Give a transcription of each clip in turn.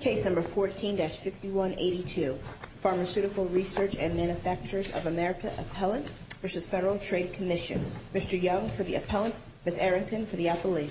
Case number 14-5182, Pharmaceutical Research and Manufacturers of America Appellant v. Federal Trade Commission. Mr. Young for the appellant, Ms. Arrington for the appellee.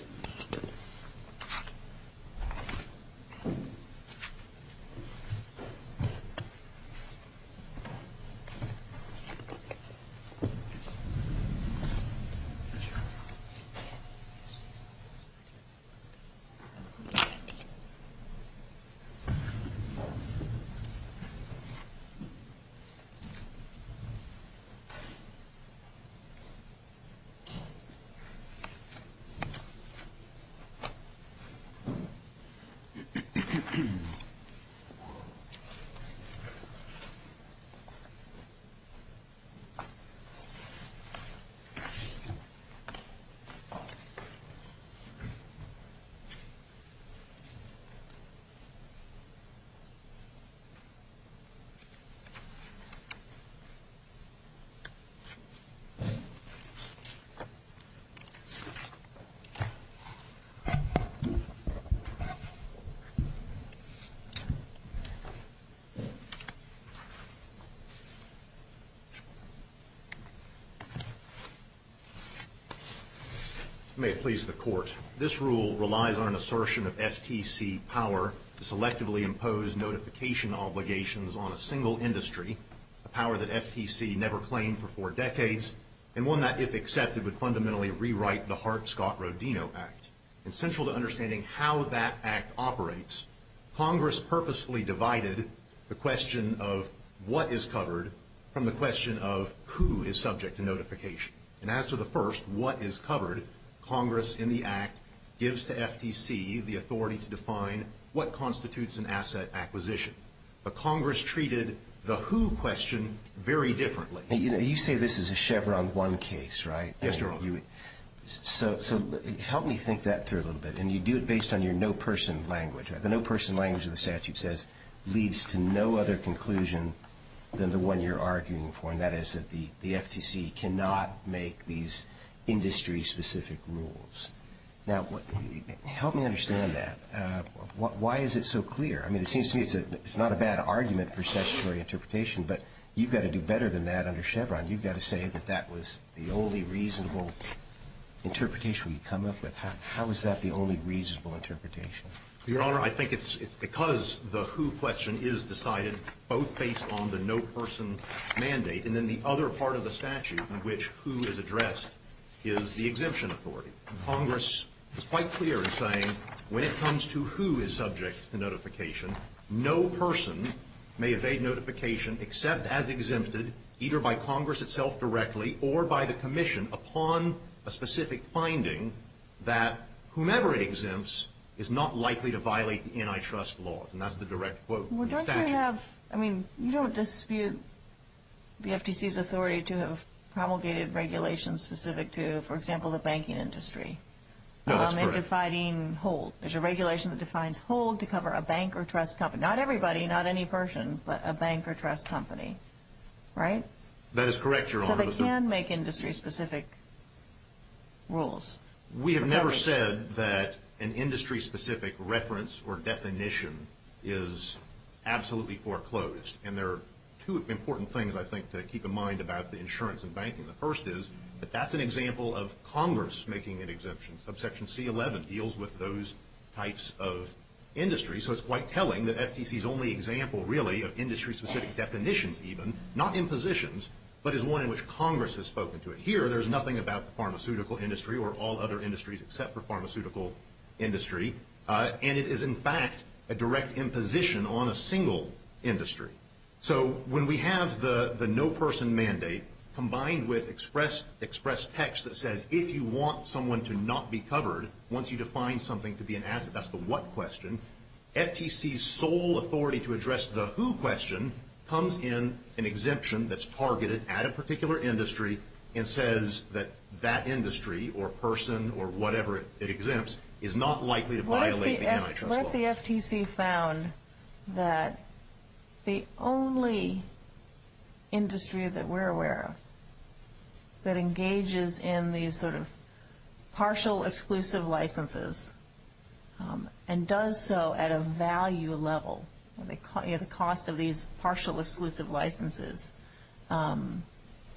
May it please the court, this rule relies on an assertion of FTC power. The power to selectively impose notification obligations on a single industry, a power that FTC never claimed for four decades, and one that, if accepted, would fundamentally rewrite the Hart-Scott-Rodino Act. Essential to understanding how that act operates, Congress purposefully divided the question of what is covered from the question of who is subject to notification. And as to the first, what is covered, Congress, in the act, gives to FTC the authority to define what constitutes an asset acquisition. But Congress treated the who question very differently. You say this is a Chevron one case, right? Yes, Your Honor. So help me think that through a little bit. And you do it based on your no-person language. The no-person language of the statute says leads to no other conclusion than the one you're arguing for, and that is that the FTC cannot make these industry-specific rules. Now, help me understand that. Why is it so clear? I mean, it seems to me it's not a bad argument for statutory interpretation, but you've got to do better than that under Chevron. You've got to say that that was the only reasonable interpretation you come up with. How is that the only reasonable interpretation? Your Honor, I think it's because the who question is decided both based on the no-person mandate, and then the other part of the statute in which who is addressed is the exemption authority. Congress is quite clear in saying when it comes to who is subject to notification, no person may evade notification except as exempted either by Congress itself directly or by the commission upon a specific finding that whomever it exempts is not likely to violate the antitrust laws. And that's the direct quote in the statute. Well, don't you have, I mean, you don't dispute the FTC's authority to have promulgated regulations specific to, for example, the banking industry. No, that's correct. In defining hold. There's a regulation that defines hold to cover a bank or trust company. Not everybody, not any person, but a bank or trust company. Right? That is correct, Your Honor. So they can make industry-specific rules. We have never said that an industry-specific reference or definition is absolutely foreclosed. And there are two important things, I think, to keep in mind about the insurance and banking. The first is that that's an example of Congress making an exemption. Subsection C-11 deals with those types of industries. So it's quite telling that FTC's only example, really, of industry-specific definitions even, not impositions, but is one in which Congress has spoken to it. Here, there's nothing about the pharmaceutical industry or all other industries except for pharmaceutical industry. And it is, in fact, a direct imposition on a single industry. So when we have the no-person mandate combined with express text that says if you want someone to not be covered, once you define something to be an asset, that's the what question. FTC's sole authority to address the who question comes in an exemption that's targeted at a particular industry and says that that industry or person or whatever it exempts is not likely to violate the antitrust law. What if the FTC found that the only industry that we're aware of that engages in these sort of partial, exclusive licenses and does so at a value level, the cost of these partial, exclusive licenses,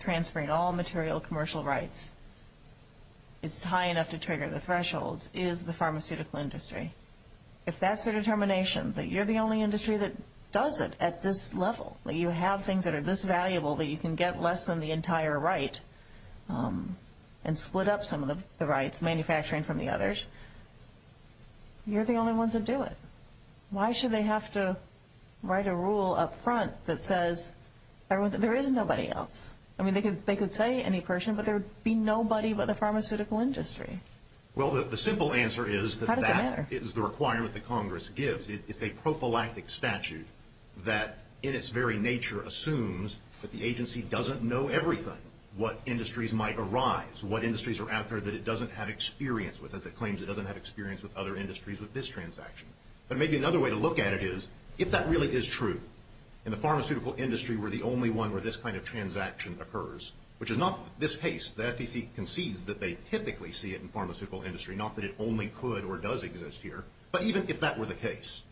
transferring all material commercial rights is high enough to trigger the thresholds, is the pharmaceutical industry? If that's their determination, that you're the only industry that does it at this level, that you have things that are this valuable that you can get less than the entire right and split up some of the rights, manufacturing from the others, you're the only ones that do it. Why should they have to write a rule up front that says there is nobody else? I mean, they could say any person, but there would be nobody but the pharmaceutical industry. Well, the simple answer is that that is the requirement that Congress gives. It's a prophylactic statute that, in its very nature, assumes that the agency doesn't know everything, what industries might arise, what industries are out there that it doesn't have experience with, as it claims it doesn't have experience with other industries with this transaction. But maybe another way to look at it is, if that really is true, and the pharmaceutical industry were the only one where this kind of transaction occurs, which is not this case, the FTC concedes that they typically see it in pharmaceutical industry, not that it only could or does exist here. But even if that were the case,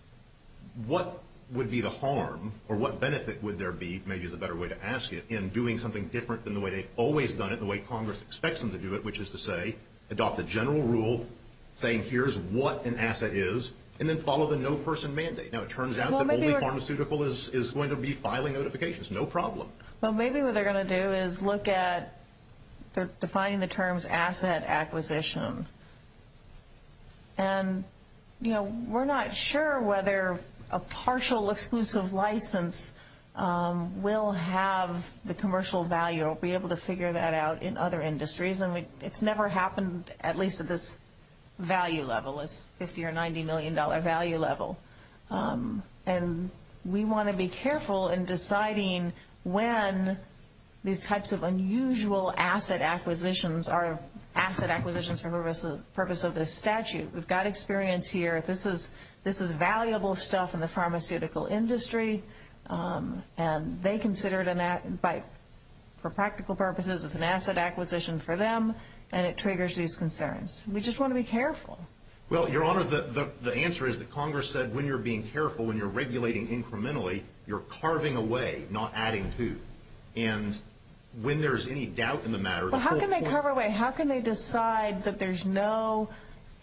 what would be the harm, or what benefit would there be, maybe is a better way to ask it, in doing something different than the way they've always done it, the way Congress expects them to do it, which is to say, adopt a general rule, saying here's what an asset is, and then follow the no-person mandate. Now, it turns out that only pharmaceutical is going to be filing notifications, no problem. Well, maybe what they're going to do is look at, they're defining the terms asset acquisition. And, you know, we're not sure whether a partial exclusive license will have the commercial value, or be able to figure that out in other industries. And it's never happened, at least at this value level, this $50 million or $90 million value level. And we want to be careful in deciding when these types of unusual asset acquisitions are asset acquisitions for the purpose of this statute. We've got experience here, this is valuable stuff in the pharmaceutical industry, and they consider it, for practical purposes, it's an asset acquisition for them, and it triggers these concerns. We just want to be careful. Well, Your Honor, the answer is that Congress said when you're being careful, when you're regulating incrementally, you're carving away, not adding to. And when there's any doubt in the matter, the full point is... Well, how can they carve away? How can they decide that there's no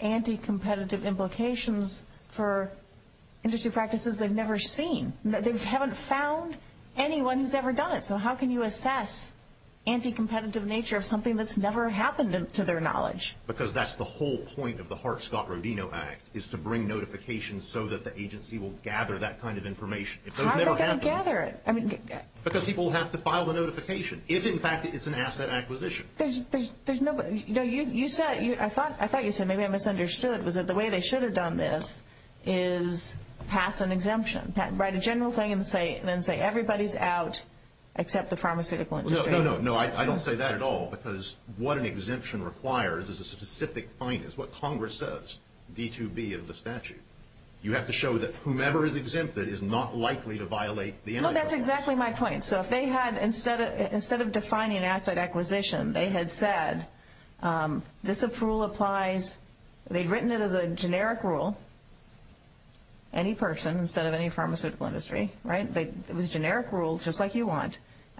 anti-competitive implications for industry practices they've never seen? They haven't found anyone who's ever done it. So how can you assess anti-competitive nature of something that's never happened to their knowledge? Because that's the whole point of the Hart-Scott-Rodino Act, is to bring notifications so that the agency will gather that kind of information. How are they going to gather it? Because people will have to file the notification if, in fact, it's an asset acquisition. I thought you said, maybe I misunderstood, was that the way they should have done this is pass an exemption, write a general thing and then say everybody's out except the pharmaceutical industry. No, no, no. I don't say that at all because what an exemption requires is a specific point. It's what Congress says, D2B of the statute. You have to show that whomever is exempted is not likely to violate the energy laws. Well, that's exactly my point. So if they had, instead of defining asset acquisition, they had said, this rule applies, they'd written it as a generic rule, any person instead of any pharmaceutical industry, right?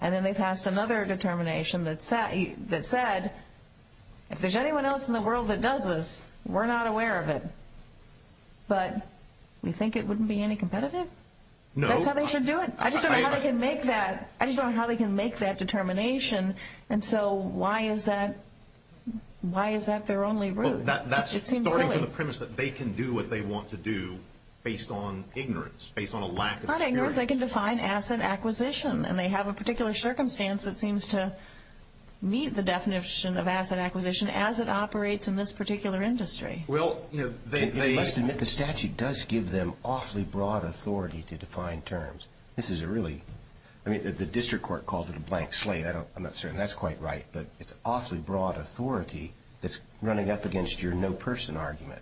And then they passed another determination that said, if there's anyone else in the world that does this, we're not aware of it, but you think it wouldn't be any competitive? No. That's how they should do it. I just don't know how they can make that determination, and so why is that their only route? It seems silly. Well, that's starting from the premise that they can do what they want to do based on ignorance, based on a lack of experience. That's not ignorance. They can define asset acquisition, and they have a particular circumstance that seems to meet the definition of asset acquisition as it operates in this particular industry. Well, you know, they – Let's admit the statute does give them awfully broad authority to define terms. This is a really – I mean, the district court called it a blank slate. I'm not certain that's quite right, but it's awfully broad authority that's running up against your no person argument.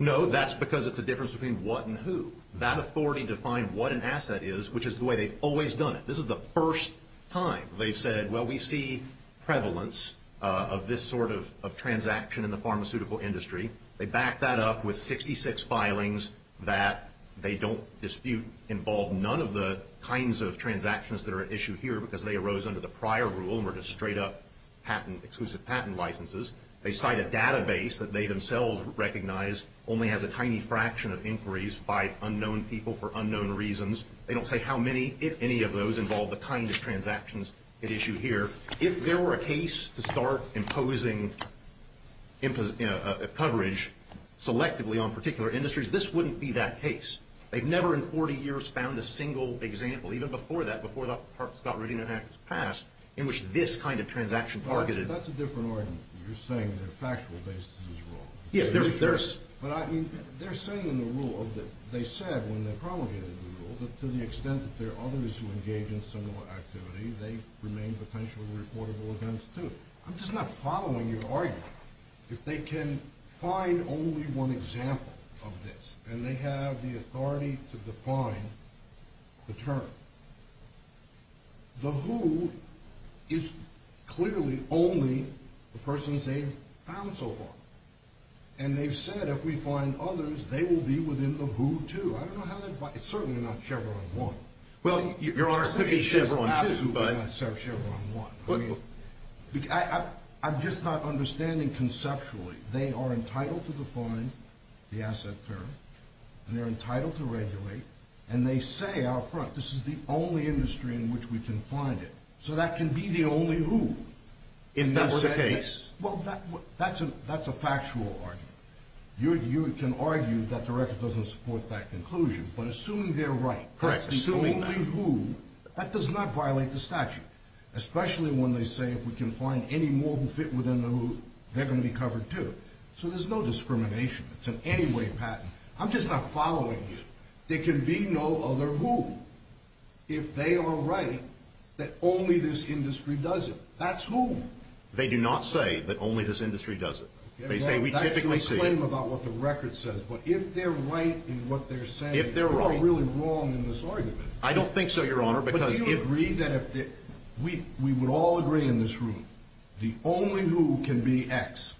No, that's because it's a difference between what and who. That authority defined what an asset is, which is the way they've always done it. This is the first time they've said, well, we see prevalence of this sort of transaction in the pharmaceutical industry. They back that up with 66 filings that they don't dispute involve none of the kinds of transactions that are at issue here because they arose under the prior rule and were just straight up patent – exclusive patent licenses. They cite a database that they themselves recognize only has a tiny fraction of inquiries by unknown people for unknown reasons. They don't say how many, if any, of those involve the kind of transactions at issue here. If there were a case to start imposing coverage selectively on particular industries, this wouldn't be that case. They've never in 40 years found a single example, even before that, before the Scott Rudin Act was passed, in which this kind of transaction targeted – You're saying their factual basis is wrong. Yes, there's – But I mean, they're saying in the rule of the – they said when they promulgated the rule that to the extent that there are others who engage in similar activity, they remain potentially reportable events too. I'm just not following your argument. If they can find only one example of this and they have the authority to define the term, the who is clearly only the persons they've found so far. And they've said if we find others, they will be within the who too. I don't know how that – it's certainly not Chevron 1. Well, Your Honor, it could be Chevron 2, but – It's absolutely not Chevron 1. I mean, I'm just not understanding conceptually. They are entitled to define the asset term, and they're entitled to regulate, and they say out front this is the only industry in which we can find it. So that can be the only who. If that were the case? Well, that's a factual argument. You can argue that the record doesn't support that conclusion, but assuming they're right – Correct, assuming that. Assuming the who, that does not violate the statute, especially when they say if we can find any more who fit within the who, they're going to be covered too. So there's no discrimination. It's an anyway patent. I'm just not following you. There can be no other who if they are right that only this industry does it. That's who. They do not say that only this industry does it. They say we typically see – That's your claim about what the record says. But if they're right in what they're saying – If they're right – You're really wrong in this argument. I don't think so, Your Honor, because if – But do you agree that if – we would all agree in this room, the only who can be X,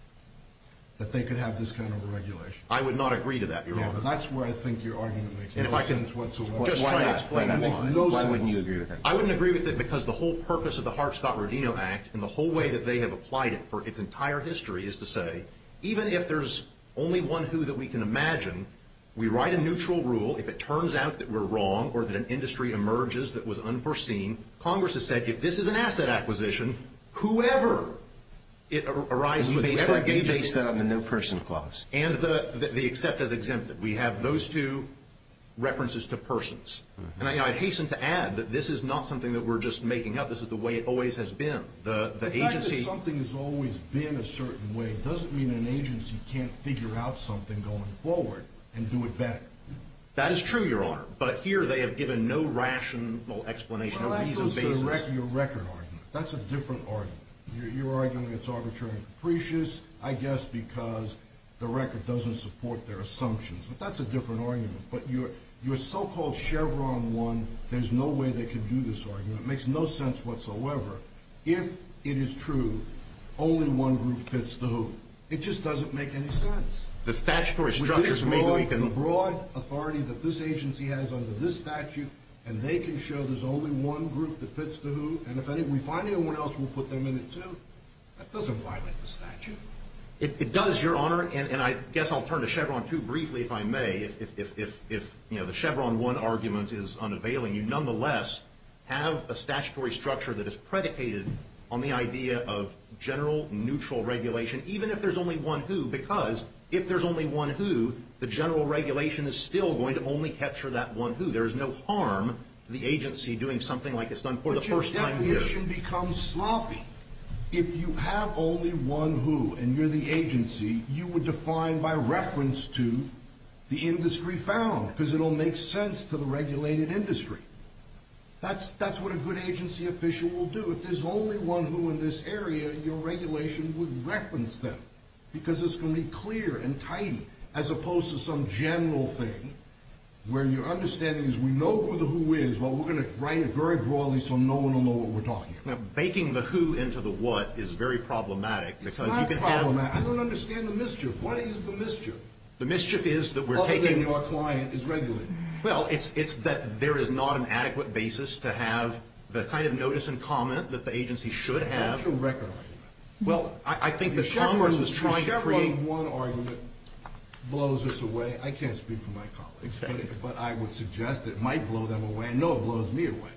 that they could have this kind of regulation? I would not agree to that, Your Honor. That's where I think your argument makes no sense whatsoever. Just try to explain why. Why wouldn't you agree with that? I wouldn't agree with it because the whole purpose of the Hart-Scott-Rodino Act and the whole way that they have applied it for its entire history is to say, even if there's only one who that we can imagine, we write a neutral rule. If it turns out that we're wrong or that an industry emerges that was unforeseen, Congress has said if this is an asset acquisition, whoever it arises with – And you base that on the no-person clause. And the except as exempted. We have those two references to persons. And I hasten to add that this is not something that we're just making up. This is the way it always has been. The agency – The fact that something has always been a certain way doesn't mean an agency can't figure out something going forward and do it better. That is true, Your Honor, but here they have given no rational explanation on a reasoned basis. Well, that goes to the record argument. That's a different argument. You're arguing it's arbitrary and capricious, I guess, because the record doesn't support their assumptions. But that's a different argument. But your so-called Chevron one, there's no way they can do this argument. It makes no sense whatsoever. If it is true, only one group fits the who. It just doesn't make any sense. The statutory structures may be weakened. With this broad authority that this agency has under this statute, and they can show there's only one group that fits the who, and if we find anyone else, we'll put them in it too. That doesn't violate the statute. It does, Your Honor, and I guess I'll turn to Chevron two briefly if I may. If the Chevron one argument is unavailing, you nonetheless have a statutory structure that is predicated on the idea of general, neutral regulation, even if there's only one who, because if there's only one who, the general regulation is still going to only capture that one who. There is no harm to the agency doing something like it's done for the first time with it. But your definition becomes sloppy. If you have only one who, and you're the agency, you would define by reference to the industry found, because it'll make sense to the regulated industry. That's what a good agency official will do. If there's only one who in this area, your regulation would reference them, because it's going to be clear and tidy, as opposed to some general thing where your understanding is we know who the who is, but we're going to write it very broadly so no one will know what we're talking about. Now, baking the who into the what is very problematic. It's not problematic. I don't understand the mischief. What is the mischief? The mischief is that we're taking – Other than your client is regulated. Well, it's that there is not an adequate basis to have the kind of notice and comment that the agency should have. That's a record argument. Well, I think the Congress is trying to create – The Chevron one argument blows this away. I can't speak for my colleagues, but I would suggest it might blow them away. I know it blows me away.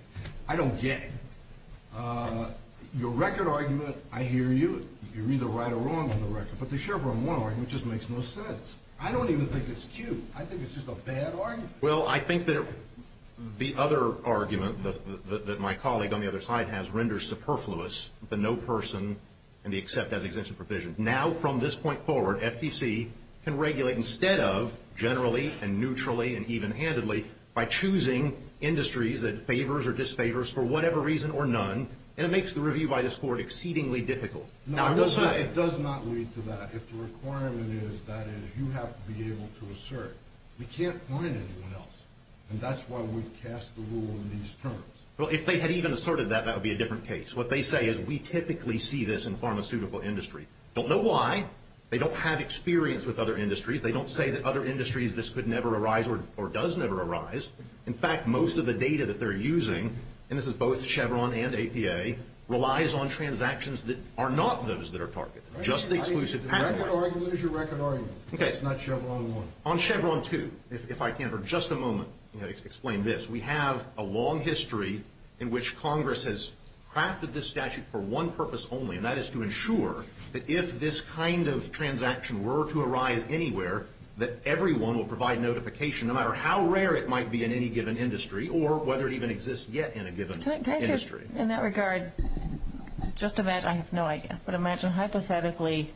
I don't get it. Your record argument, I hear you. You're either right or wrong on the record. But the Chevron one argument just makes no sense. I don't even think it's cute. I think it's just a bad argument. Well, I think that the other argument that my colleague on the other side has renders superfluous the no person and the accept as exemption provision. Now, from this point forward, FTC can regulate instead of generally and neutrally and even-handedly by choosing industries that favors or disfavors for whatever reason or none, and it makes the review by this Court exceedingly difficult. No, it does not lead to that. If the requirement is that is you have to be able to assert, we can't find anyone else. And that's why we've cast the rule in these terms. Well, if they had even asserted that, that would be a different case. What they say is we typically see this in pharmaceutical industry. Don't know why. They don't have experience with other industries. They don't say that other industries this could never arise or does never arise. In fact, most of the data that they're using, and this is both Chevron and APA, relies on transactions that are not those that are targeted, just the exclusive patent license. The record argument is your record argument. Okay. It's not Chevron one. On Chevron two, if I can for just a moment explain this. We have a long history in which Congress has crafted this statute for one purpose only, and that is to ensure that if this kind of transaction were to arise anywhere, that everyone will provide notification no matter how rare it might be in any given industry or whether it even exists yet in a given industry. In that regard, just imagine, I have no idea, but imagine hypothetically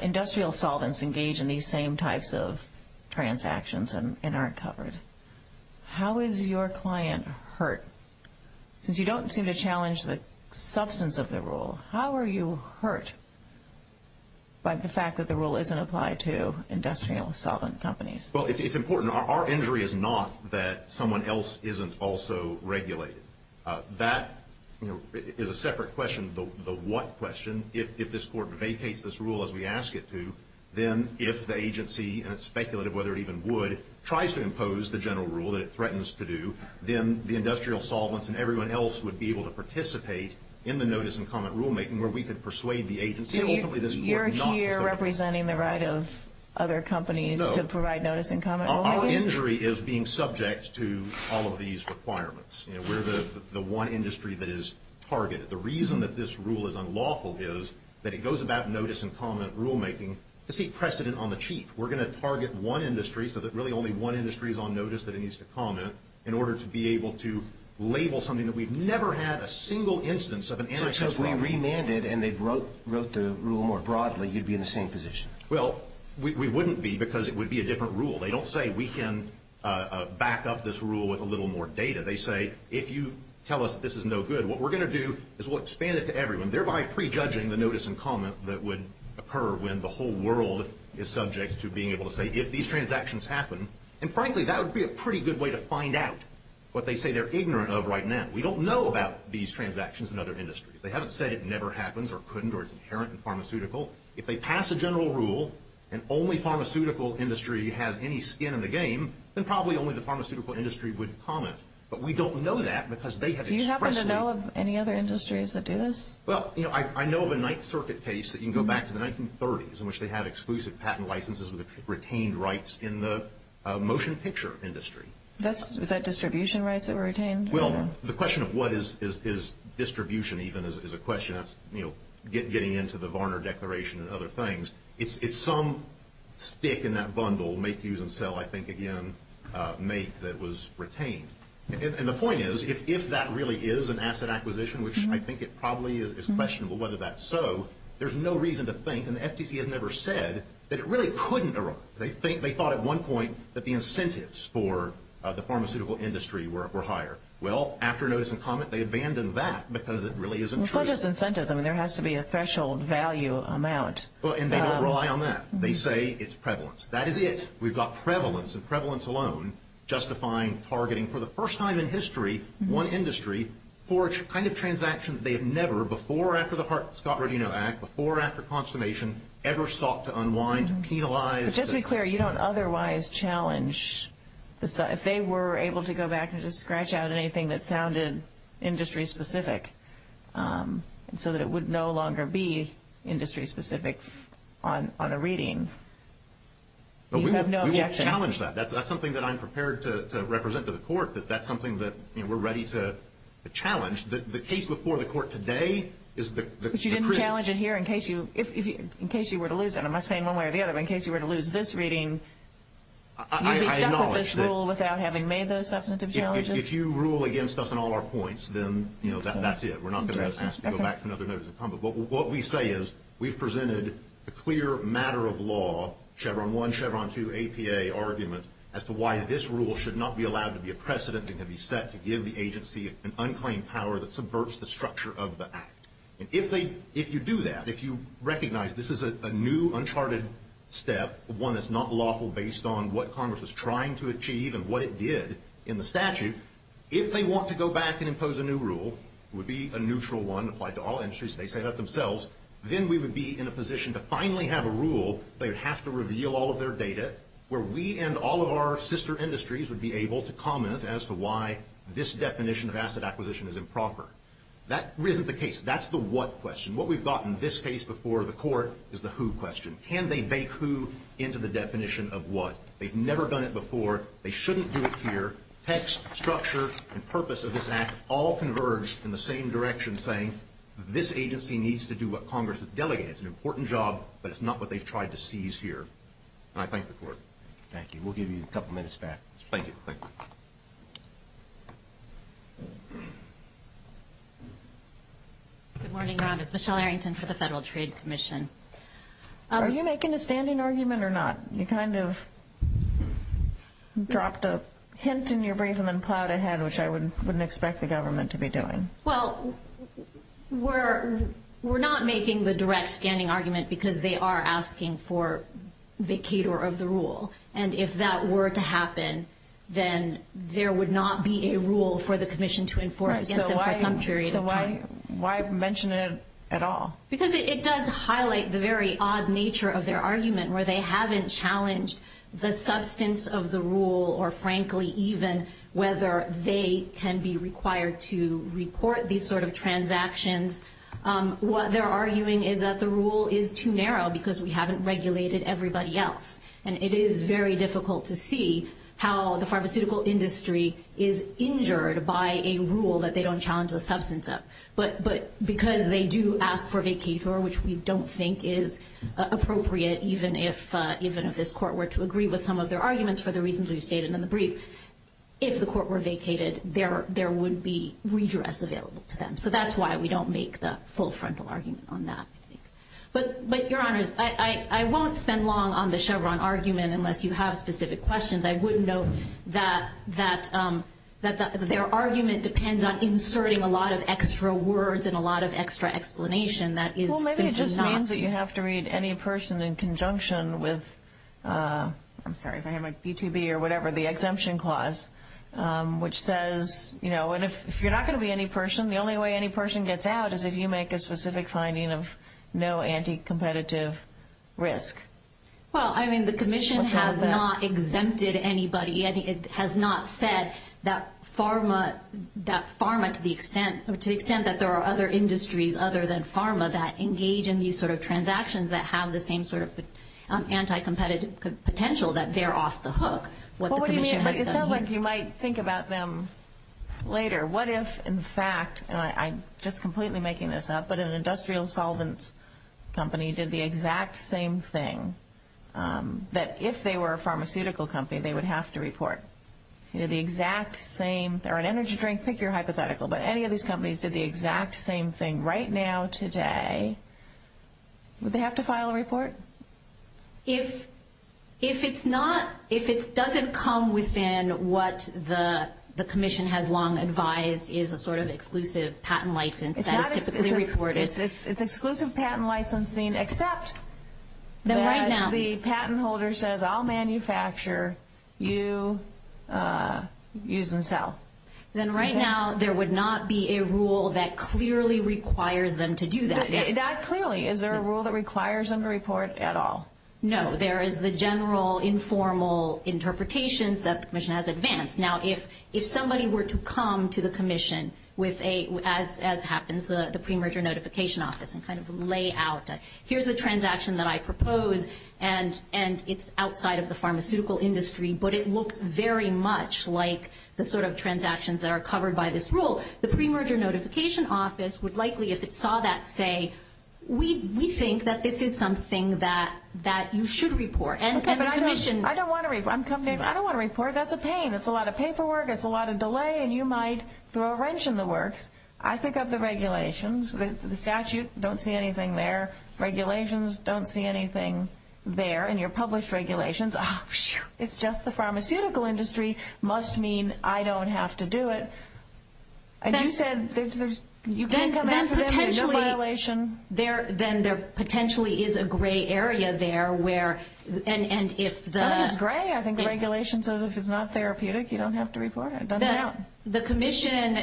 industrial solvents engage in these same types of transactions and aren't covered. How is your client hurt? Since you don't seem to challenge the substance of the rule, how are you hurt by the fact that the rule isn't applied to industrial solvent companies? Well, it's important. Our injury is not that someone else isn't also regulated. That is a separate question, the what question. If this Court vacates this rule as we ask it to, then if the agency, and it's speculative whether it even would, tries to impose the general rule that it threatens to do, then the industrial solvents and everyone else would be able to participate in the notice and comment rulemaking where we could persuade the agency. And you're here representing the right of other companies to provide notice and comment rulemaking? Our injury is being subject to all of these requirements. We're the one industry that is targeted. The reason that this rule is unlawful is that it goes about notice and comment rulemaking to seek precedent on the cheap. We're going to target one industry so that really only one industry is on notice that it needs to comment in order to be able to label something that we've never had a single instance of an enterprise problem. So if we remanded and they wrote the rule more broadly, you'd be in the same position? Well, we wouldn't be because it would be a different rule. They don't say we can back up this rule with a little more data. They say if you tell us that this is no good, what we're going to do is we'll expand it to everyone, thereby prejudging the notice and comment that would occur when the whole world is subject to being able to say if these transactions happen, and frankly, that would be a pretty good way to find out what they say they're ignorant of right now. We don't know about these transactions in other industries. They haven't said it never happens or couldn't or it's inherent in pharmaceutical. If they pass a general rule and only pharmaceutical industry has any skin in the game, then probably only the pharmaceutical industry would comment. But we don't know that because they have expressly – Do you happen to know of any other industries that do this? Well, I know of a Ninth Circuit case that you can go back to the 1930s in which they have exclusive patent licenses with retained rights in the motion picture industry. Was that distribution rights that were retained? Well, the question of what is distribution even is a question. That's getting into the Varner Declaration and other things. It's some stick in that bundle, make, use, and sell, I think, again, make that was retained. And the point is, if that really is an asset acquisition, which I think it probably is questionable whether that's so, there's no reason to think, and the FTC has never said, that it really couldn't erupt. They thought at one point that the incentives for the pharmaceutical industry were higher. Well, after notice and comment, they abandoned that because it really isn't true. Well, it's not just incentives. I mean, there has to be a threshold value amount. And they don't rely on that. They say it's prevalence. That is it. We've got prevalence, and prevalence alone justifying targeting for the first time in history, one industry for a kind of transaction that they have never, before or after the Scott Rodino Act, before or after consummation, ever sought to unwind, penalize. But just to be clear, you don't otherwise challenge, if they were able to go back and just scratch out anything that sounded industry-specific so that it would no longer be industry-specific on a reading, you have no objection? We will challenge that. That's something that I'm prepared to represent to the court, that that's something that we're ready to challenge. The case before the court today is the... But you didn't challenge it here in case you were to lose it. I'm not saying one way or the other, but in case you were to lose this reading, you'd be stuck with this rule without having made those substantive challenges? If you rule against us on all our points, then that's it. We're not going to have a sense to go back to another notice of comment. But what we say is we've presented a clear matter of law, Chevron 1, Chevron 2, APA argument, as to why this rule should not be allowed to be a precedent that can be set to give the agency an unclaimed power that subverts the structure of the Act. And if you do that, if you recognize this is a new, uncharted step, one that's not lawful based on what Congress was trying to achieve and what it did in the statute, if they want to go back and impose a new rule, it would be a neutral one applied to all industries, they say that themselves, then we would be in a position to finally have a rule they would have to reveal all of their data, where we and all of our sister industries would be able to comment as to why this definition of asset acquisition is improper. That isn't the case. That's the what question. What we've got in this case before the Court is the who question. Can they bake who into the definition of what? They've never done it before. They shouldn't do it here. Text, structure, and purpose of this Act all converge in the same direction, saying this agency needs to do what Congress has delegated. It's an important job, but it's not what they've tried to seize here. And I thank the Court. Thank you. We'll give you a couple minutes back. Thank you. Thank you. Good morning, Rob. It's Michelle Arrington for the Federal Trade Commission. Are you making a standing argument or not? You kind of dropped a hint in your brief and then plowed ahead, which I wouldn't expect the government to be doing. Well, we're not making the direct standing argument because they are asking for vacator of the rule. And if that were to happen, then there would not be a rule for the commission to enforce against them for some period of time. So why mention it at all? Because it does highlight the very odd nature of their argument where they haven't challenged the substance of the rule or frankly even whether they can be required to report these sort of transactions. What they're arguing is that the rule is too narrow because we haven't regulated everybody else. And it is very difficult to see how the pharmaceutical industry is injured by a rule that they don't challenge the substance of. But because they do ask for vacator, which we don't think is appropriate, even if this court were to agree with some of their arguments for the reasons we've stated in the brief, if the court were vacated, there would be redress available to them. So that's why we don't make the full frontal argument on that. But, Your Honors, I won't spend long on the Chevron argument unless you have specific questions. I would note that their argument depends on inserting a lot of extra words and a lot of extra explanation that is simply not. Well, maybe it just means that you have to read any person in conjunction with, I'm sorry if I have my BTB or whatever, the exemption clause, which says, and if you're not going to be any person, the only way any person gets out is if you make a specific finding of no anti-competitive risk. Well, I mean, the Commission has not exempted anybody. It has not said that pharma, to the extent that there are other industries other than pharma that engage in these sort of transactions that have the same sort of anti-competitive potential, that they're off the hook, what the Commission has done here. Well, what do you mean? It sounds like you might think about them later. What if, in fact, and I'm just completely making this up, but an industrial solvents company did the exact same thing, that if they were a pharmaceutical company they would have to report? You know, the exact same, or an energy drink, pick your hypothetical, but any of these companies did the exact same thing right now today, would they have to file a report? If it's not, if it doesn't come within what the Commission has long advised is a sort of exclusive patent license that is typically reported. It's exclusive patent licensing except that the patent holder says, I'll manufacture, you use and sell. Then right now there would not be a rule that clearly requires them to do that. That clearly, is there a rule that requires them to report at all? No. There is the general informal interpretations that the Commission has advanced. Now, if somebody were to come to the Commission with a, as happens, the pre-merger notification office and kind of lay out, here's the transaction that I propose, and it's outside of the pharmaceutical industry, but it looks very much like the sort of transactions that are covered by this rule, the pre-merger notification office would likely, if it saw that, say, we think that this is something that you should report. Okay, but I don't want to report. That's a pain. It's a lot of paperwork. It's a lot of delay, and you might throw a wrench in the works. I think of the regulations. The statute, don't see anything there. Regulations, don't see anything there. And your published regulations, it's just the pharmaceutical industry must mean I don't have to do it. And you said you can't come after them, there's no violation. Then there potentially is a gray area there where, and if the – Nothing is gray. I think the regulation says if it's not therapeutic, you don't have to report it. The Commission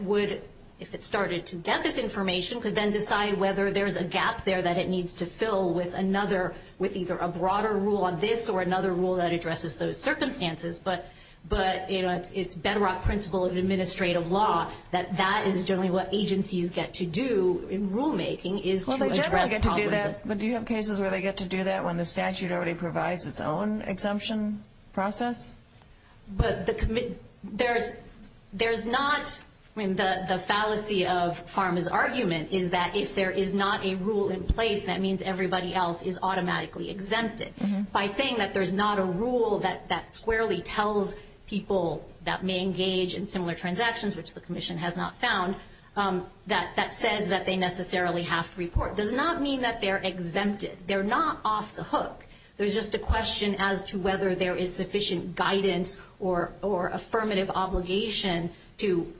would, if it started to get this information, could then decide whether there's a gap there that it needs to fill with another, with either a broader rule on this or another rule that addresses those circumstances. But, you know, it's bedrock principle of administrative law, that that is generally what agencies get to do in rulemaking is to address problems. Well, they generally get to do that, but do you have cases where they get to do that when the statute already provides its own exemption process? But there's not, I mean, the fallacy of Pharma's argument is that if there is not a rule in place, that means everybody else is automatically exempted. By saying that there's not a rule that squarely tells people that may engage in similar transactions, which the Commission has not found, that that says that they necessarily have to report, does not mean that they're exempted. They're not off the hook. There's just a question as to whether there is sufficient guidance or affirmative obligation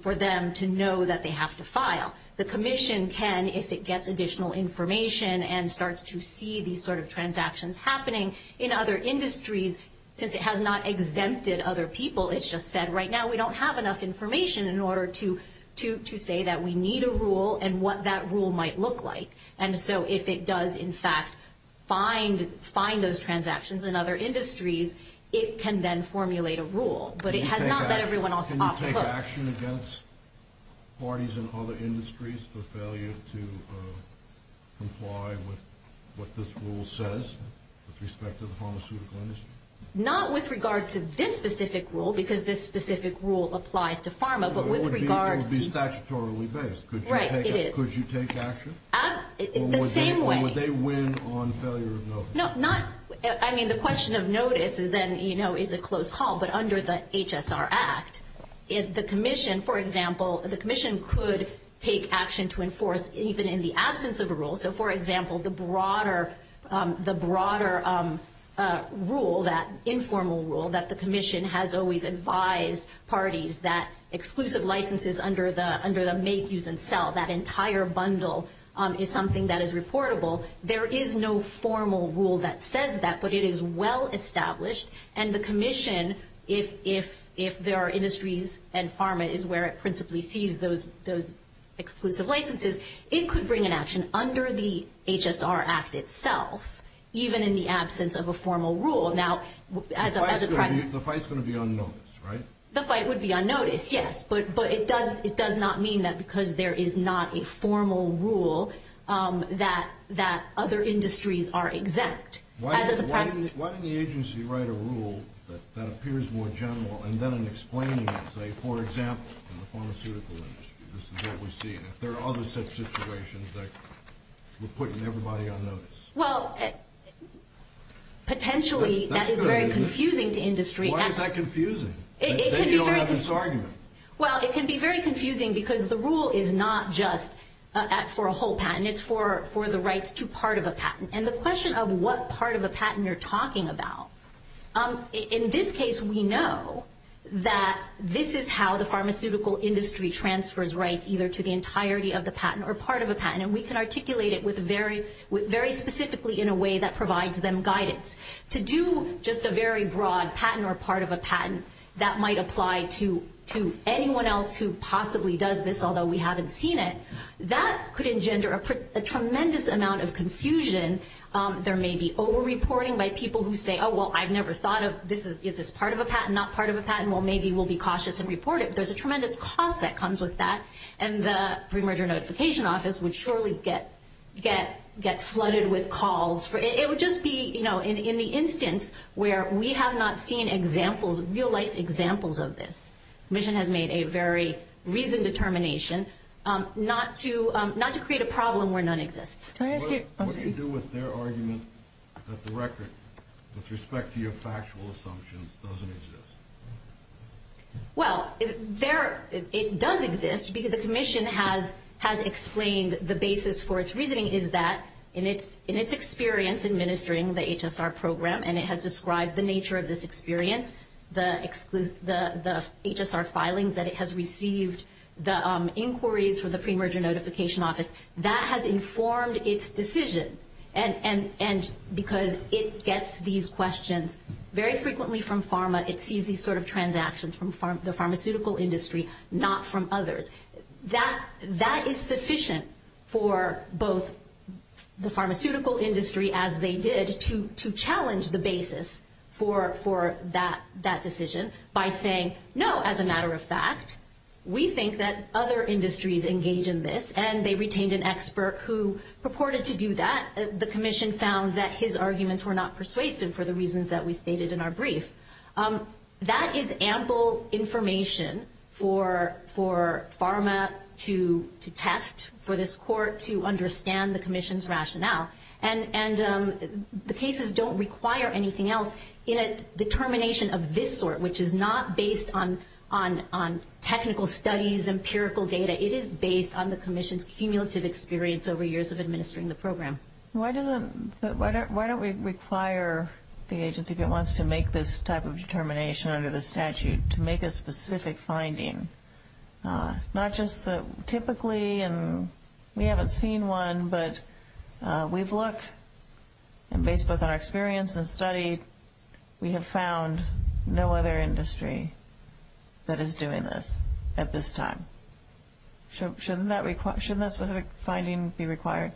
for them to know that they have to file. The Commission can if it gets additional information and starts to see these sort of transactions happening in other industries. Since it has not exempted other people, it's just said right now we don't have enough information in order to say that we need a rule and what that rule might look like. And so if it does, in fact, find those transactions in other industries, it can then formulate a rule. But it has not let everyone else off the hook. Would you take action against parties in other industries for failure to comply with what this rule says with respect to the pharmaceutical industry? Not with regard to this specific rule, because this specific rule applies to pharma, but with regard to- It would be statutorily based. Right, it is. Could you take action? The same way. Or would they win on failure of notice? The question of notice then is a close call. But under the HSR Act, the Commission, for example, the Commission could take action to enforce even in the absence of a rule. So, for example, the broader rule, that informal rule that the Commission has always advised parties that exclusive licenses under the make, use, and sell, that entire bundle, is something that is reportable. There is no formal rule that says that, but it is well established. And the Commission, if there are industries and pharma is where it principally sees those exclusive licenses, it could bring an action under the HSR Act itself, even in the absence of a formal rule. Now, as a- The fight's going to be on notice, right? The fight would be on notice, yes. But it does not mean that because there is not a formal rule that other industries are exempt. Why didn't the agency write a rule that appears more general and then in explaining it, say, for example, in the pharmaceutical industry, this is what we see, and if there are other such situations that we're putting everybody on notice. Well, potentially that is very confusing to industry. Why is that confusing? Then you don't have this argument. Well, it can be very confusing because the rule is not just for a whole patent. It's for the rights to part of a patent. And the question of what part of a patent you're talking about, in this case, we know that this is how the pharmaceutical industry transfers rights, either to the entirety of the patent or part of a patent. And we can articulate it very specifically in a way that provides them guidance. To do just a very broad patent or part of a patent that might apply to anyone else who possibly does this, although we haven't seen it, that could engender a tremendous amount of confusion. There may be over-reporting by people who say, oh, well, I've never thought of this. Is this part of a patent, not part of a patent? Well, maybe we'll be cautious and report it. But there's a tremendous cost that comes with that, and the pre-merger notification office would surely get flooded with calls. It would just be in the instance where we have not seen real-life examples of this. The Commission has made a very reasoned determination not to create a problem where none exists. What do you do with their argument that the record, with respect to your factual assumptions, doesn't exist? Well, it does exist because the Commission has explained the basis for its reasoning is that, in its experience administering the HSR program, and it has described the nature of this experience, the HSR filings that it has received, the inquiries for the pre-merger notification office, that has informed its decision because it gets these questions very frequently from pharma. It sees these sort of transactions from the pharmaceutical industry, not from others. That is sufficient for both the pharmaceutical industry, as they did, to challenge the basis for that decision by saying, no, as a matter of fact, we think that other industries engage in this, and they retained an expert who purported to do that. The Commission found that his arguments were not persuasive for the reasons that we stated in our brief. That is ample information for pharma to test, for this court to understand the Commission's rationale. And the cases don't require anything else in a determination of this sort, which is not based on technical studies, empirical data. It is based on the Commission's cumulative experience over years of administering the program. Why don't we require the agency, if it wants to make this type of determination under the statute, to make a specific finding? Not just that typically, and we haven't seen one, but we've looked, and based both on our experience and study, we have found no other industry that is doing this at this time. Shouldn't that specific finding be required?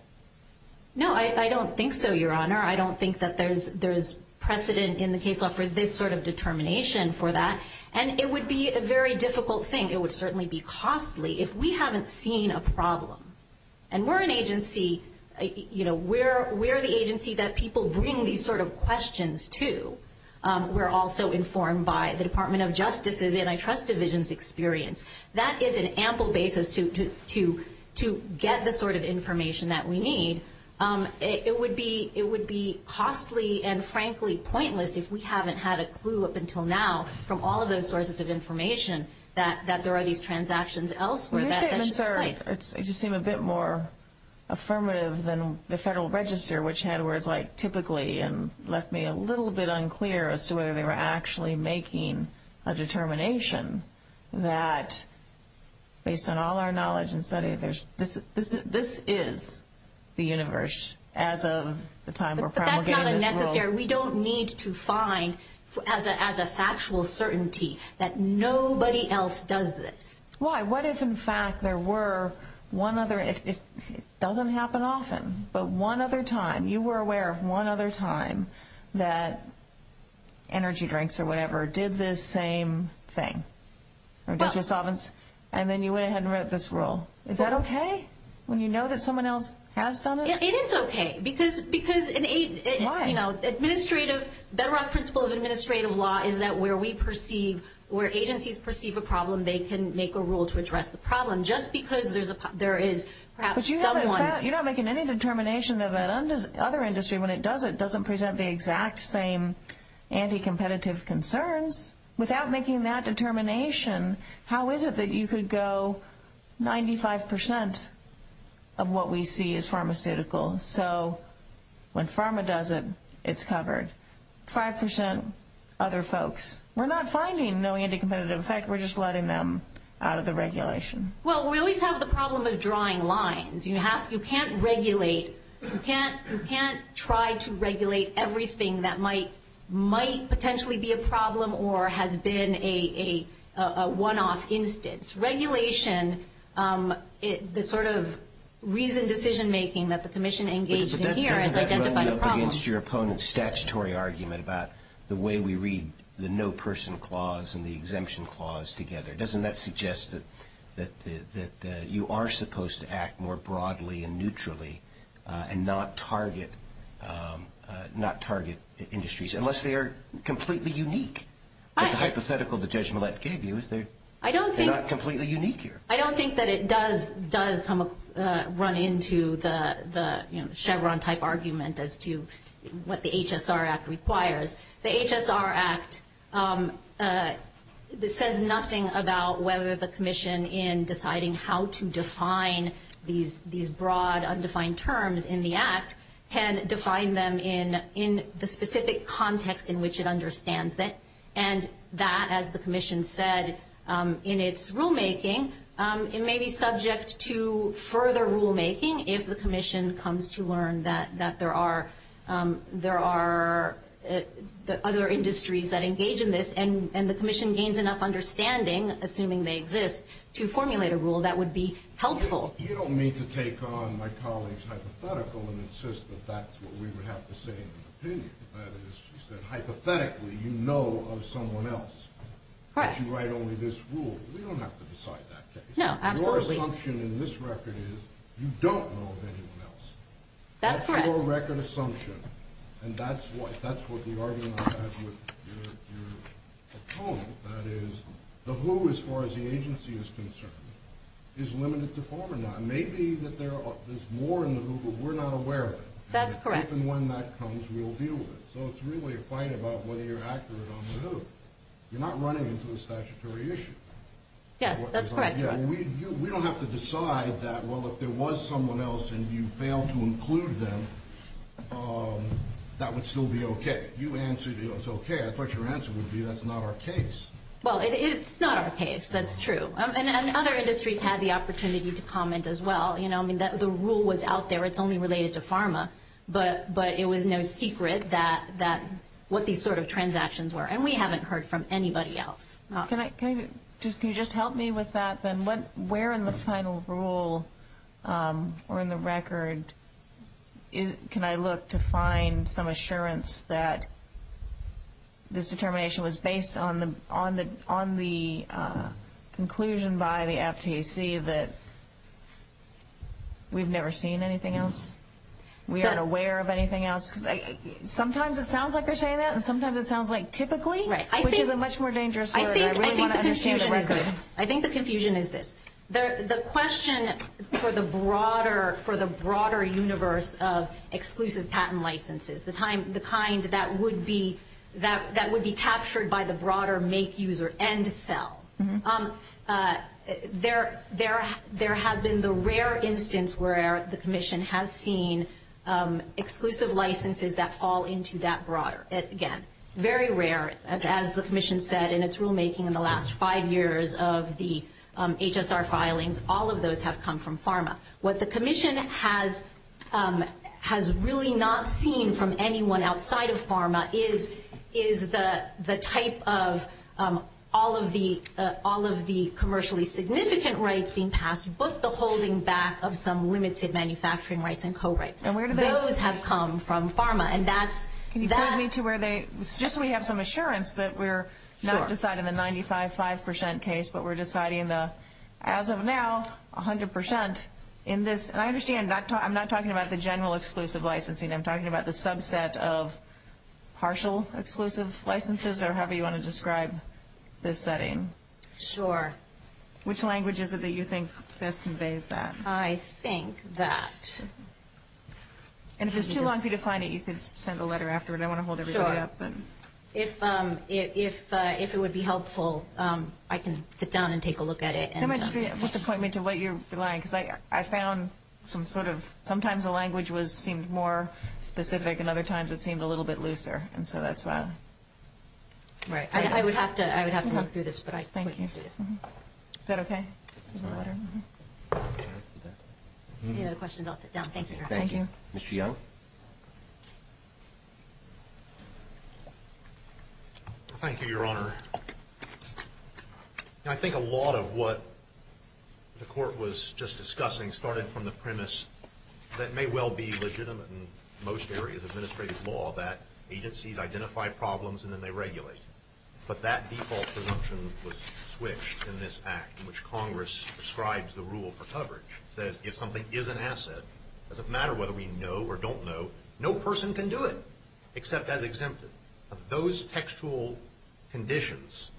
No, I don't think so, Your Honor. I don't think that there is precedent in the case law for this sort of determination for that. And it would be a very difficult thing. It would certainly be costly if we haven't seen a problem. And we're an agency, you know, we're the agency that people bring these sort of questions to. We're also informed by the Department of Justice's Antitrust Division's experience. That is an ample basis to get the sort of information that we need. It would be costly and, frankly, pointless if we haven't had a clue up until now, from all of those sources of information, that there are these transactions elsewhere. Your statements seem a bit more affirmative than the Federal Register, which had words like typically and left me a little bit unclear as to whether they were actually making a determination that, based on all our knowledge and study, this is the universe as of the time we're promulgating this rule. But that's not necessary. We don't need to find, as a factual certainty, that nobody else does this. Why? What if, in fact, there were one other? It doesn't happen often, but one other time. You were aware of one other time that energy drinks or whatever did this same thing, or disresolvance, and then you went ahead and wrote this rule. Is that okay, when you know that someone else has done it? It is okay. Why? Because, you know, the bedrock principle of administrative law is that where we perceive, where agencies perceive a problem, they can make a rule to address the problem. Just because there is perhaps someone. You're not making any determination that that other industry, when it does it, doesn't present the exact same anti-competitive concerns. Without making that determination, how is it that you could go 95% of what we see is pharmaceutical, so when pharma does it, it's covered, 5% other folks. We're not finding no anti-competitive effect. We're just letting them out of the regulation. Well, we always have the problem of drawing lines. You can't regulate. You can't try to regulate everything that might potentially be a problem or has been a one-off instance. Regulation, the sort of reasoned decision-making that the commission engaged in here has identified a problem. But doesn't that roll you up against your opponent's statutory argument about the way we read the no-person clause and the exemption clause together? Doesn't that suggest that you are supposed to act more broadly and neutrally and not target industries, unless they are completely unique? The hypothetical that Judge Millett gave you is they're not completely unique here. I don't think that it does run into the Chevron-type argument as to what the HSR Act requires. The HSR Act says nothing about whether the commission, in deciding how to define these broad, undefined terms in the Act, can define them in the specific context in which it understands them. And that, as the commission said in its rulemaking, it may be subject to further rulemaking if the commission comes to learn that there are other industries that engage in this and the commission gains enough understanding, assuming they exist, to formulate a rule that would be helpful. You don't mean to take on my colleague's hypothetical and insist that that's what we would have to say in an opinion. That is, she said, hypothetically, you know of someone else. Correct. But you write only this rule. We don't have to decide that case. No, absolutely. Your assumption in this record is you don't know of anyone else. That's correct. That's your record assumption, and that's what the argument I have with your opponent. That is, the who, as far as the agency is concerned, is limited to former non. Maybe there's more in the who, but we're not aware of it. That's correct. And if and when that comes, we'll deal with it. So it's really a fight about whether you're accurate on the who. You're not running into a statutory issue. Yes, that's correct. We don't have to decide that, well, if there was someone else and you failed to include them, that would still be okay. You answered it was okay. I thought your answer would be that's not our case. Well, it's not our case. That's true. And other industries had the opportunity to comment as well. You know, I mean, the rule was out there. It's only related to pharma, but it was no secret what these sort of transactions were. And we haven't heard from anybody else. Can you just help me with that, then? Where in the final rule or in the record can I look to find some assurance that this determination was based on the conclusion by the FTC that we've never seen anything else? We aren't aware of anything else? Sometimes it sounds like they're saying that, and sometimes it sounds like typically, which is a much more dangerous word. I really want to understand the record. I think the confusion is this. The question for the broader universe of exclusive patent licenses, the kind that would be captured by the broader make, use, or end sell, there has been the rare instance where the commission has seen exclusive licenses that fall into that broader. Again, very rare, as the commission said in its rulemaking in the last five years of the HSR filings. All of those have come from pharma. What the commission has really not seen from anyone outside of pharma is the type of all of the commercially significant rights being passed, but the holding back of some limited manufacturing rights and co-rights. Just so we have some assurance that we're not deciding the 95-5% case, but we're deciding the, as of now, 100%. I understand I'm not talking about the general exclusive licensing. I'm talking about the subset of partial exclusive licenses or however you want to describe this setting. Sure. Which language is it that you think best conveys that? I think that... And if it's too long for you to find it, you could send a letter afterward. I want to hold everybody up. Sure. If it would be helpful, I can sit down and take a look at it. How much of it would point me to what you're relying? Because I found some sort of, sometimes the language seemed more specific, and other times it seemed a little bit looser. And so that's why. Right. I would have to look through this, but I couldn't do it. Thank you. Is that okay with the letter? Any other questions? I'll sit down. Thank you, Your Honor. Thank you. Mr. Young? Thank you, Your Honor. I think a lot of what the Court was just discussing started from the premise that it may well be legitimate in most areas of administrative law that agencies identify problems and then they regulate. But that default presumption was switched in this Act in which Congress prescribes the rule for coverage. It says if something is an asset, it doesn't matter whether we know or don't know, no person can do it except as exempted. Those textual conditions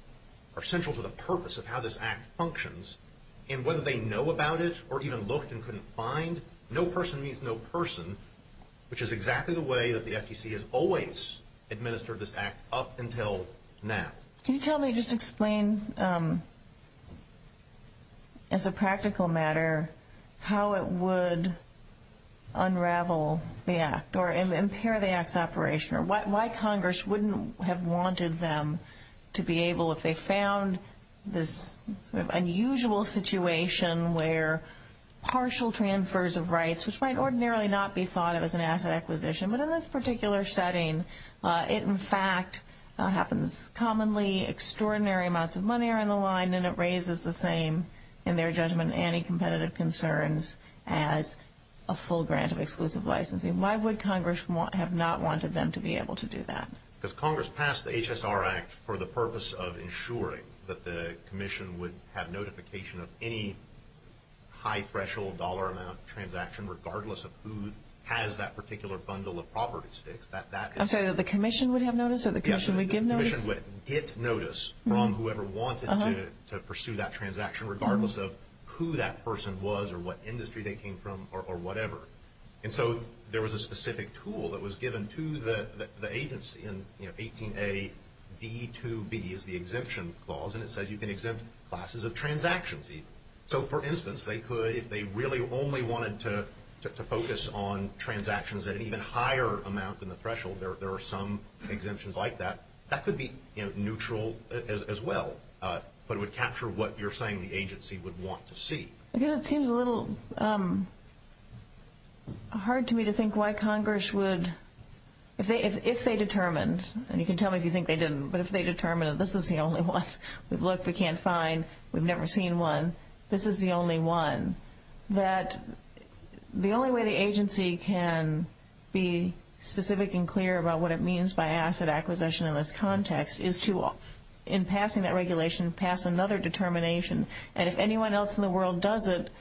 are central to the purpose of how this Act functions, and whether they know about it or even looked and couldn't find, no person means no person, which is exactly the way that the FTC has always administered this Act up until now. Can you tell me, just explain as a practical matter, how it would unravel the Act or impair the Act's operation or why Congress wouldn't have wanted them to be able, if they found this sort of unusual situation where partial transfers of rights, which might ordinarily not be thought of as an asset acquisition, but in this particular setting it, in fact, happens commonly, extraordinary amounts of money are on the line and it raises the same, in their judgment, anti-competitive concerns as a full grant of exclusive licensing. Why would Congress have not wanted them to be able to do that? Because Congress passed the HSR Act for the purpose of ensuring that the Commission would have notification of any high-threshold dollar amount transaction, regardless of who has that particular bundle of property sticks. I'm sorry, that the Commission would have notice or the Commission would give notice? The Commission would get notice from whoever wanted to pursue that transaction, regardless of who that person was or what industry they came from or whatever. And so there was a specific tool that was given to the agency in 18A. D2B is the exemption clause, and it says you can exempt classes of transactions. So, for instance, they could, if they really only wanted to focus on transactions at an even higher amount than the threshold, there are some exemptions like that. That could be neutral as well, but it would capture what you're saying the agency would want to see. I think that seems a little hard to me to think why Congress would, if they determined, and you can tell me if you think they didn't, but if they determined this is the only one we've looked, we can't find, we've never seen one, this is the only one, that the only way the agency can be specific and clear about what it means by asset acquisition in this context is to, in passing that regulation, pass another determination. And if anyone else in the world does it,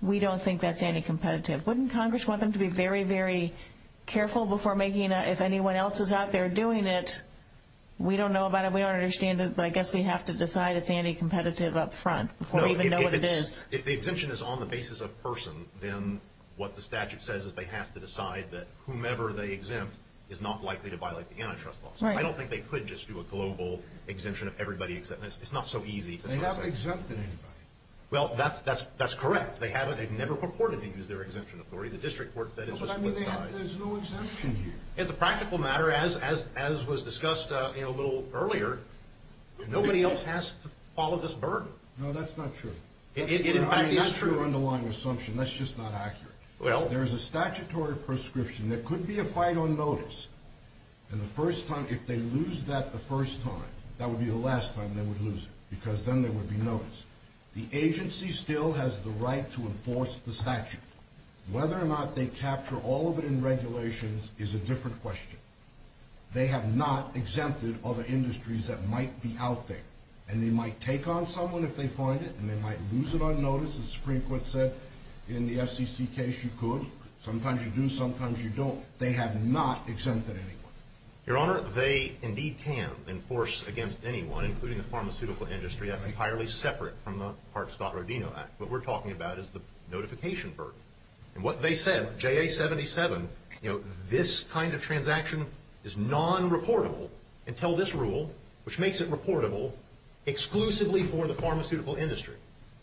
we don't think that's anti-competitive. Wouldn't Congress want them to be very, very careful before making, if anyone else is out there doing it, we don't know about it, we don't understand it, but I guess we have to decide it's anti-competitive up front before we even know what it is. If the exemption is on the basis of person, then what the statute says is they have to decide that whomever they exempt is not likely to violate the antitrust law. I don't think they could just do a global exemption of everybody except, it's not so easy. They haven't exempted anybody. Well, that's correct. They haven't, they've never purportedly used their exemption authority. The district court said it's a split side. There's no exemption here. As a practical matter, as was discussed a little earlier, nobody else has to follow this burden. No, that's not true. It, in fact, is true. That's an underlying assumption. That's just not accurate. Well. There's a statutory prescription. There could be a fight on notice. And the first time, if they lose that the first time, that would be the last time they would lose it, because then they would be noticed. The agency still has the right to enforce the statute. Whether or not they capture all of it in regulations is a different question. They have not exempted other industries that might be out there. And they might take on someone if they find it, and they might lose it on notice. The Supreme Court said in the FCC case you could. Sometimes you do, sometimes you don't. They have not exempted anyone. Your Honor, they indeed can enforce against anyone, including the pharmaceutical industry. That's entirely separate from the Hart-Scott-Rodino Act. What we're talking about is the notification burden. And what they said, JA-77, you know, this kind of transaction is non-reportable until this rule, which makes it reportable exclusively for the pharmaceutical industry.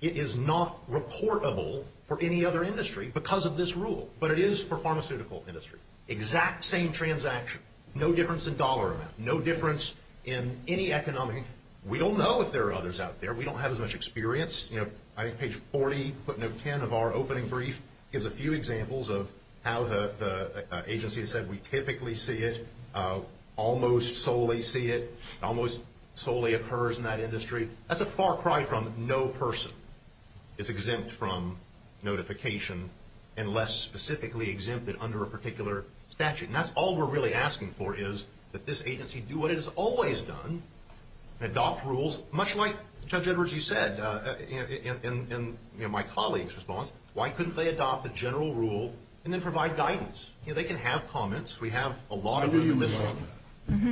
It is not reportable for any other industry because of this rule. But it is for pharmaceutical industry. Exact same transaction. No difference in dollar amount. No difference in any economic. We don't know if there are others out there. We don't have as much experience. You know, I think page 40, footnote 10 of our opening brief, gives a few examples of how the agency has said we typically see it, almost solely see it, almost solely occurs in that industry. That's a far cry from no person is exempt from notification, unless specifically exempted under a particular statute. And that's all we're really asking for is that this agency do what it has always done, adopt rules, much like Judge Edwards, you said, in my colleague's response, why couldn't they adopt a general rule and then provide guidance? You know, they can have comments. We have a lot of them in this room.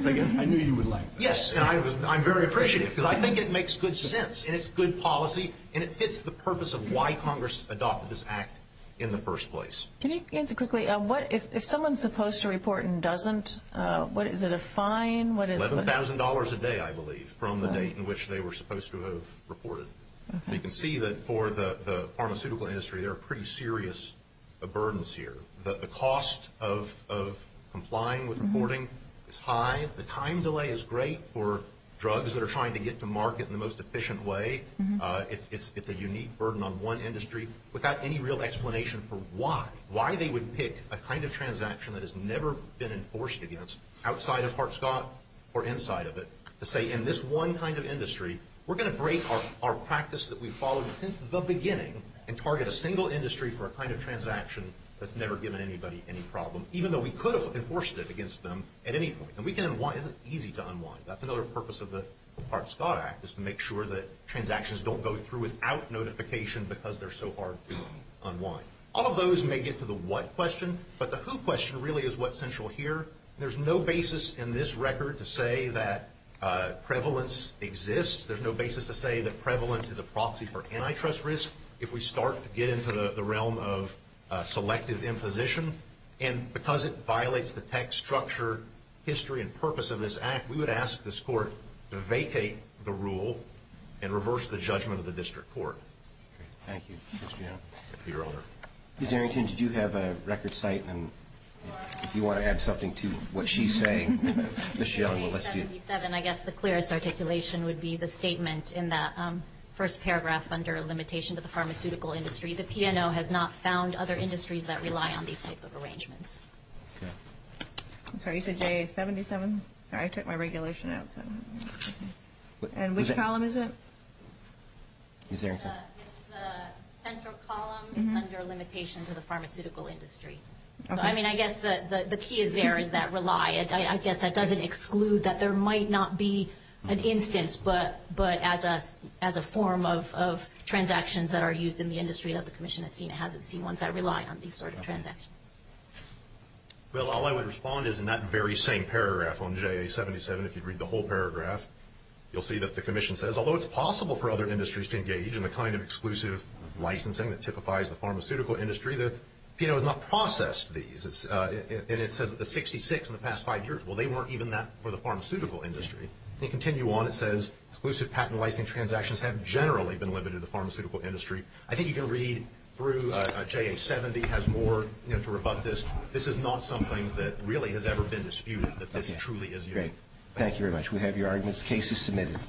I knew you would like that. Yes, and I'm very appreciative because I think it makes good sense, and it's good policy, and it fits the purpose of why Congress adopted this act in the first place. Can you answer quickly, if someone's supposed to report and doesn't, is it a fine? $11,000 a day, I believe, from the date in which they were supposed to have reported. You can see that for the pharmaceutical industry, there are pretty serious burdens here. The cost of complying with reporting is high. The time delay is great for drugs that are trying to get to market in the most efficient way. It's a unique burden on one industry without any real explanation for why, why they would pick a kind of transaction that has never been enforced against, outside of Hart-Scott or inside of it, to say in this one kind of industry, we're going to break our practice that we've followed since the beginning and target a single industry for a kind of transaction that's never given anybody any problem, even though we could have enforced it against them at any point. And we can unwind. It's easy to unwind. That's another purpose of the Hart-Scott Act, is to make sure that transactions don't go through without notification because they're so hard to unwind. All of those may get to the what question, but the who question really is what's central here. There's no basis in this record to say that prevalence exists. There's no basis to say that prevalence is a proxy for antitrust risk. If we start to get into the realm of selective imposition, and because it violates the tech structure, history, and purpose of this act, we would ask this court to vacate the rule and reverse the judgment of the district court. Thank you, Mr. Young. Ms. Arrington, did you have a record site? If you want to add something to what she's saying. I guess the clearest articulation would be the statement in the first paragraph, under limitation to the pharmaceutical industry, the P&O has not found other industries that rely on these type of arrangements. I'm sorry, you said JA-77? Sorry, I took my regulation out. And which column is it? Ms. Arrington. It's the central column. It's under limitation to the pharmaceutical industry. I mean, I guess the key is there is that rely. I guess that doesn't exclude that there might not be an instance, but as a form of transactions that are used in the industry that the commission has seen, and hasn't seen ones that rely on these sort of transactions. Well, all I would respond is in that very same paragraph on JA-77, if you read the whole paragraph, you'll see that the commission says, although it's possible for other industries to engage in the kind of exclusive licensing that typifies the pharmaceutical industry, the P&O has not processed these. And it says that the 66 in the past five years, well, they weren't even that for the pharmaceutical industry. They continue on, it says, exclusive patent licensing transactions have generally been limited to the pharmaceutical industry. I think you can read through JA-70 has more to rebut this. This is not something that really has ever been disputed, that this truly is unique. Thank you very much. We have your arguments. The case is submitted.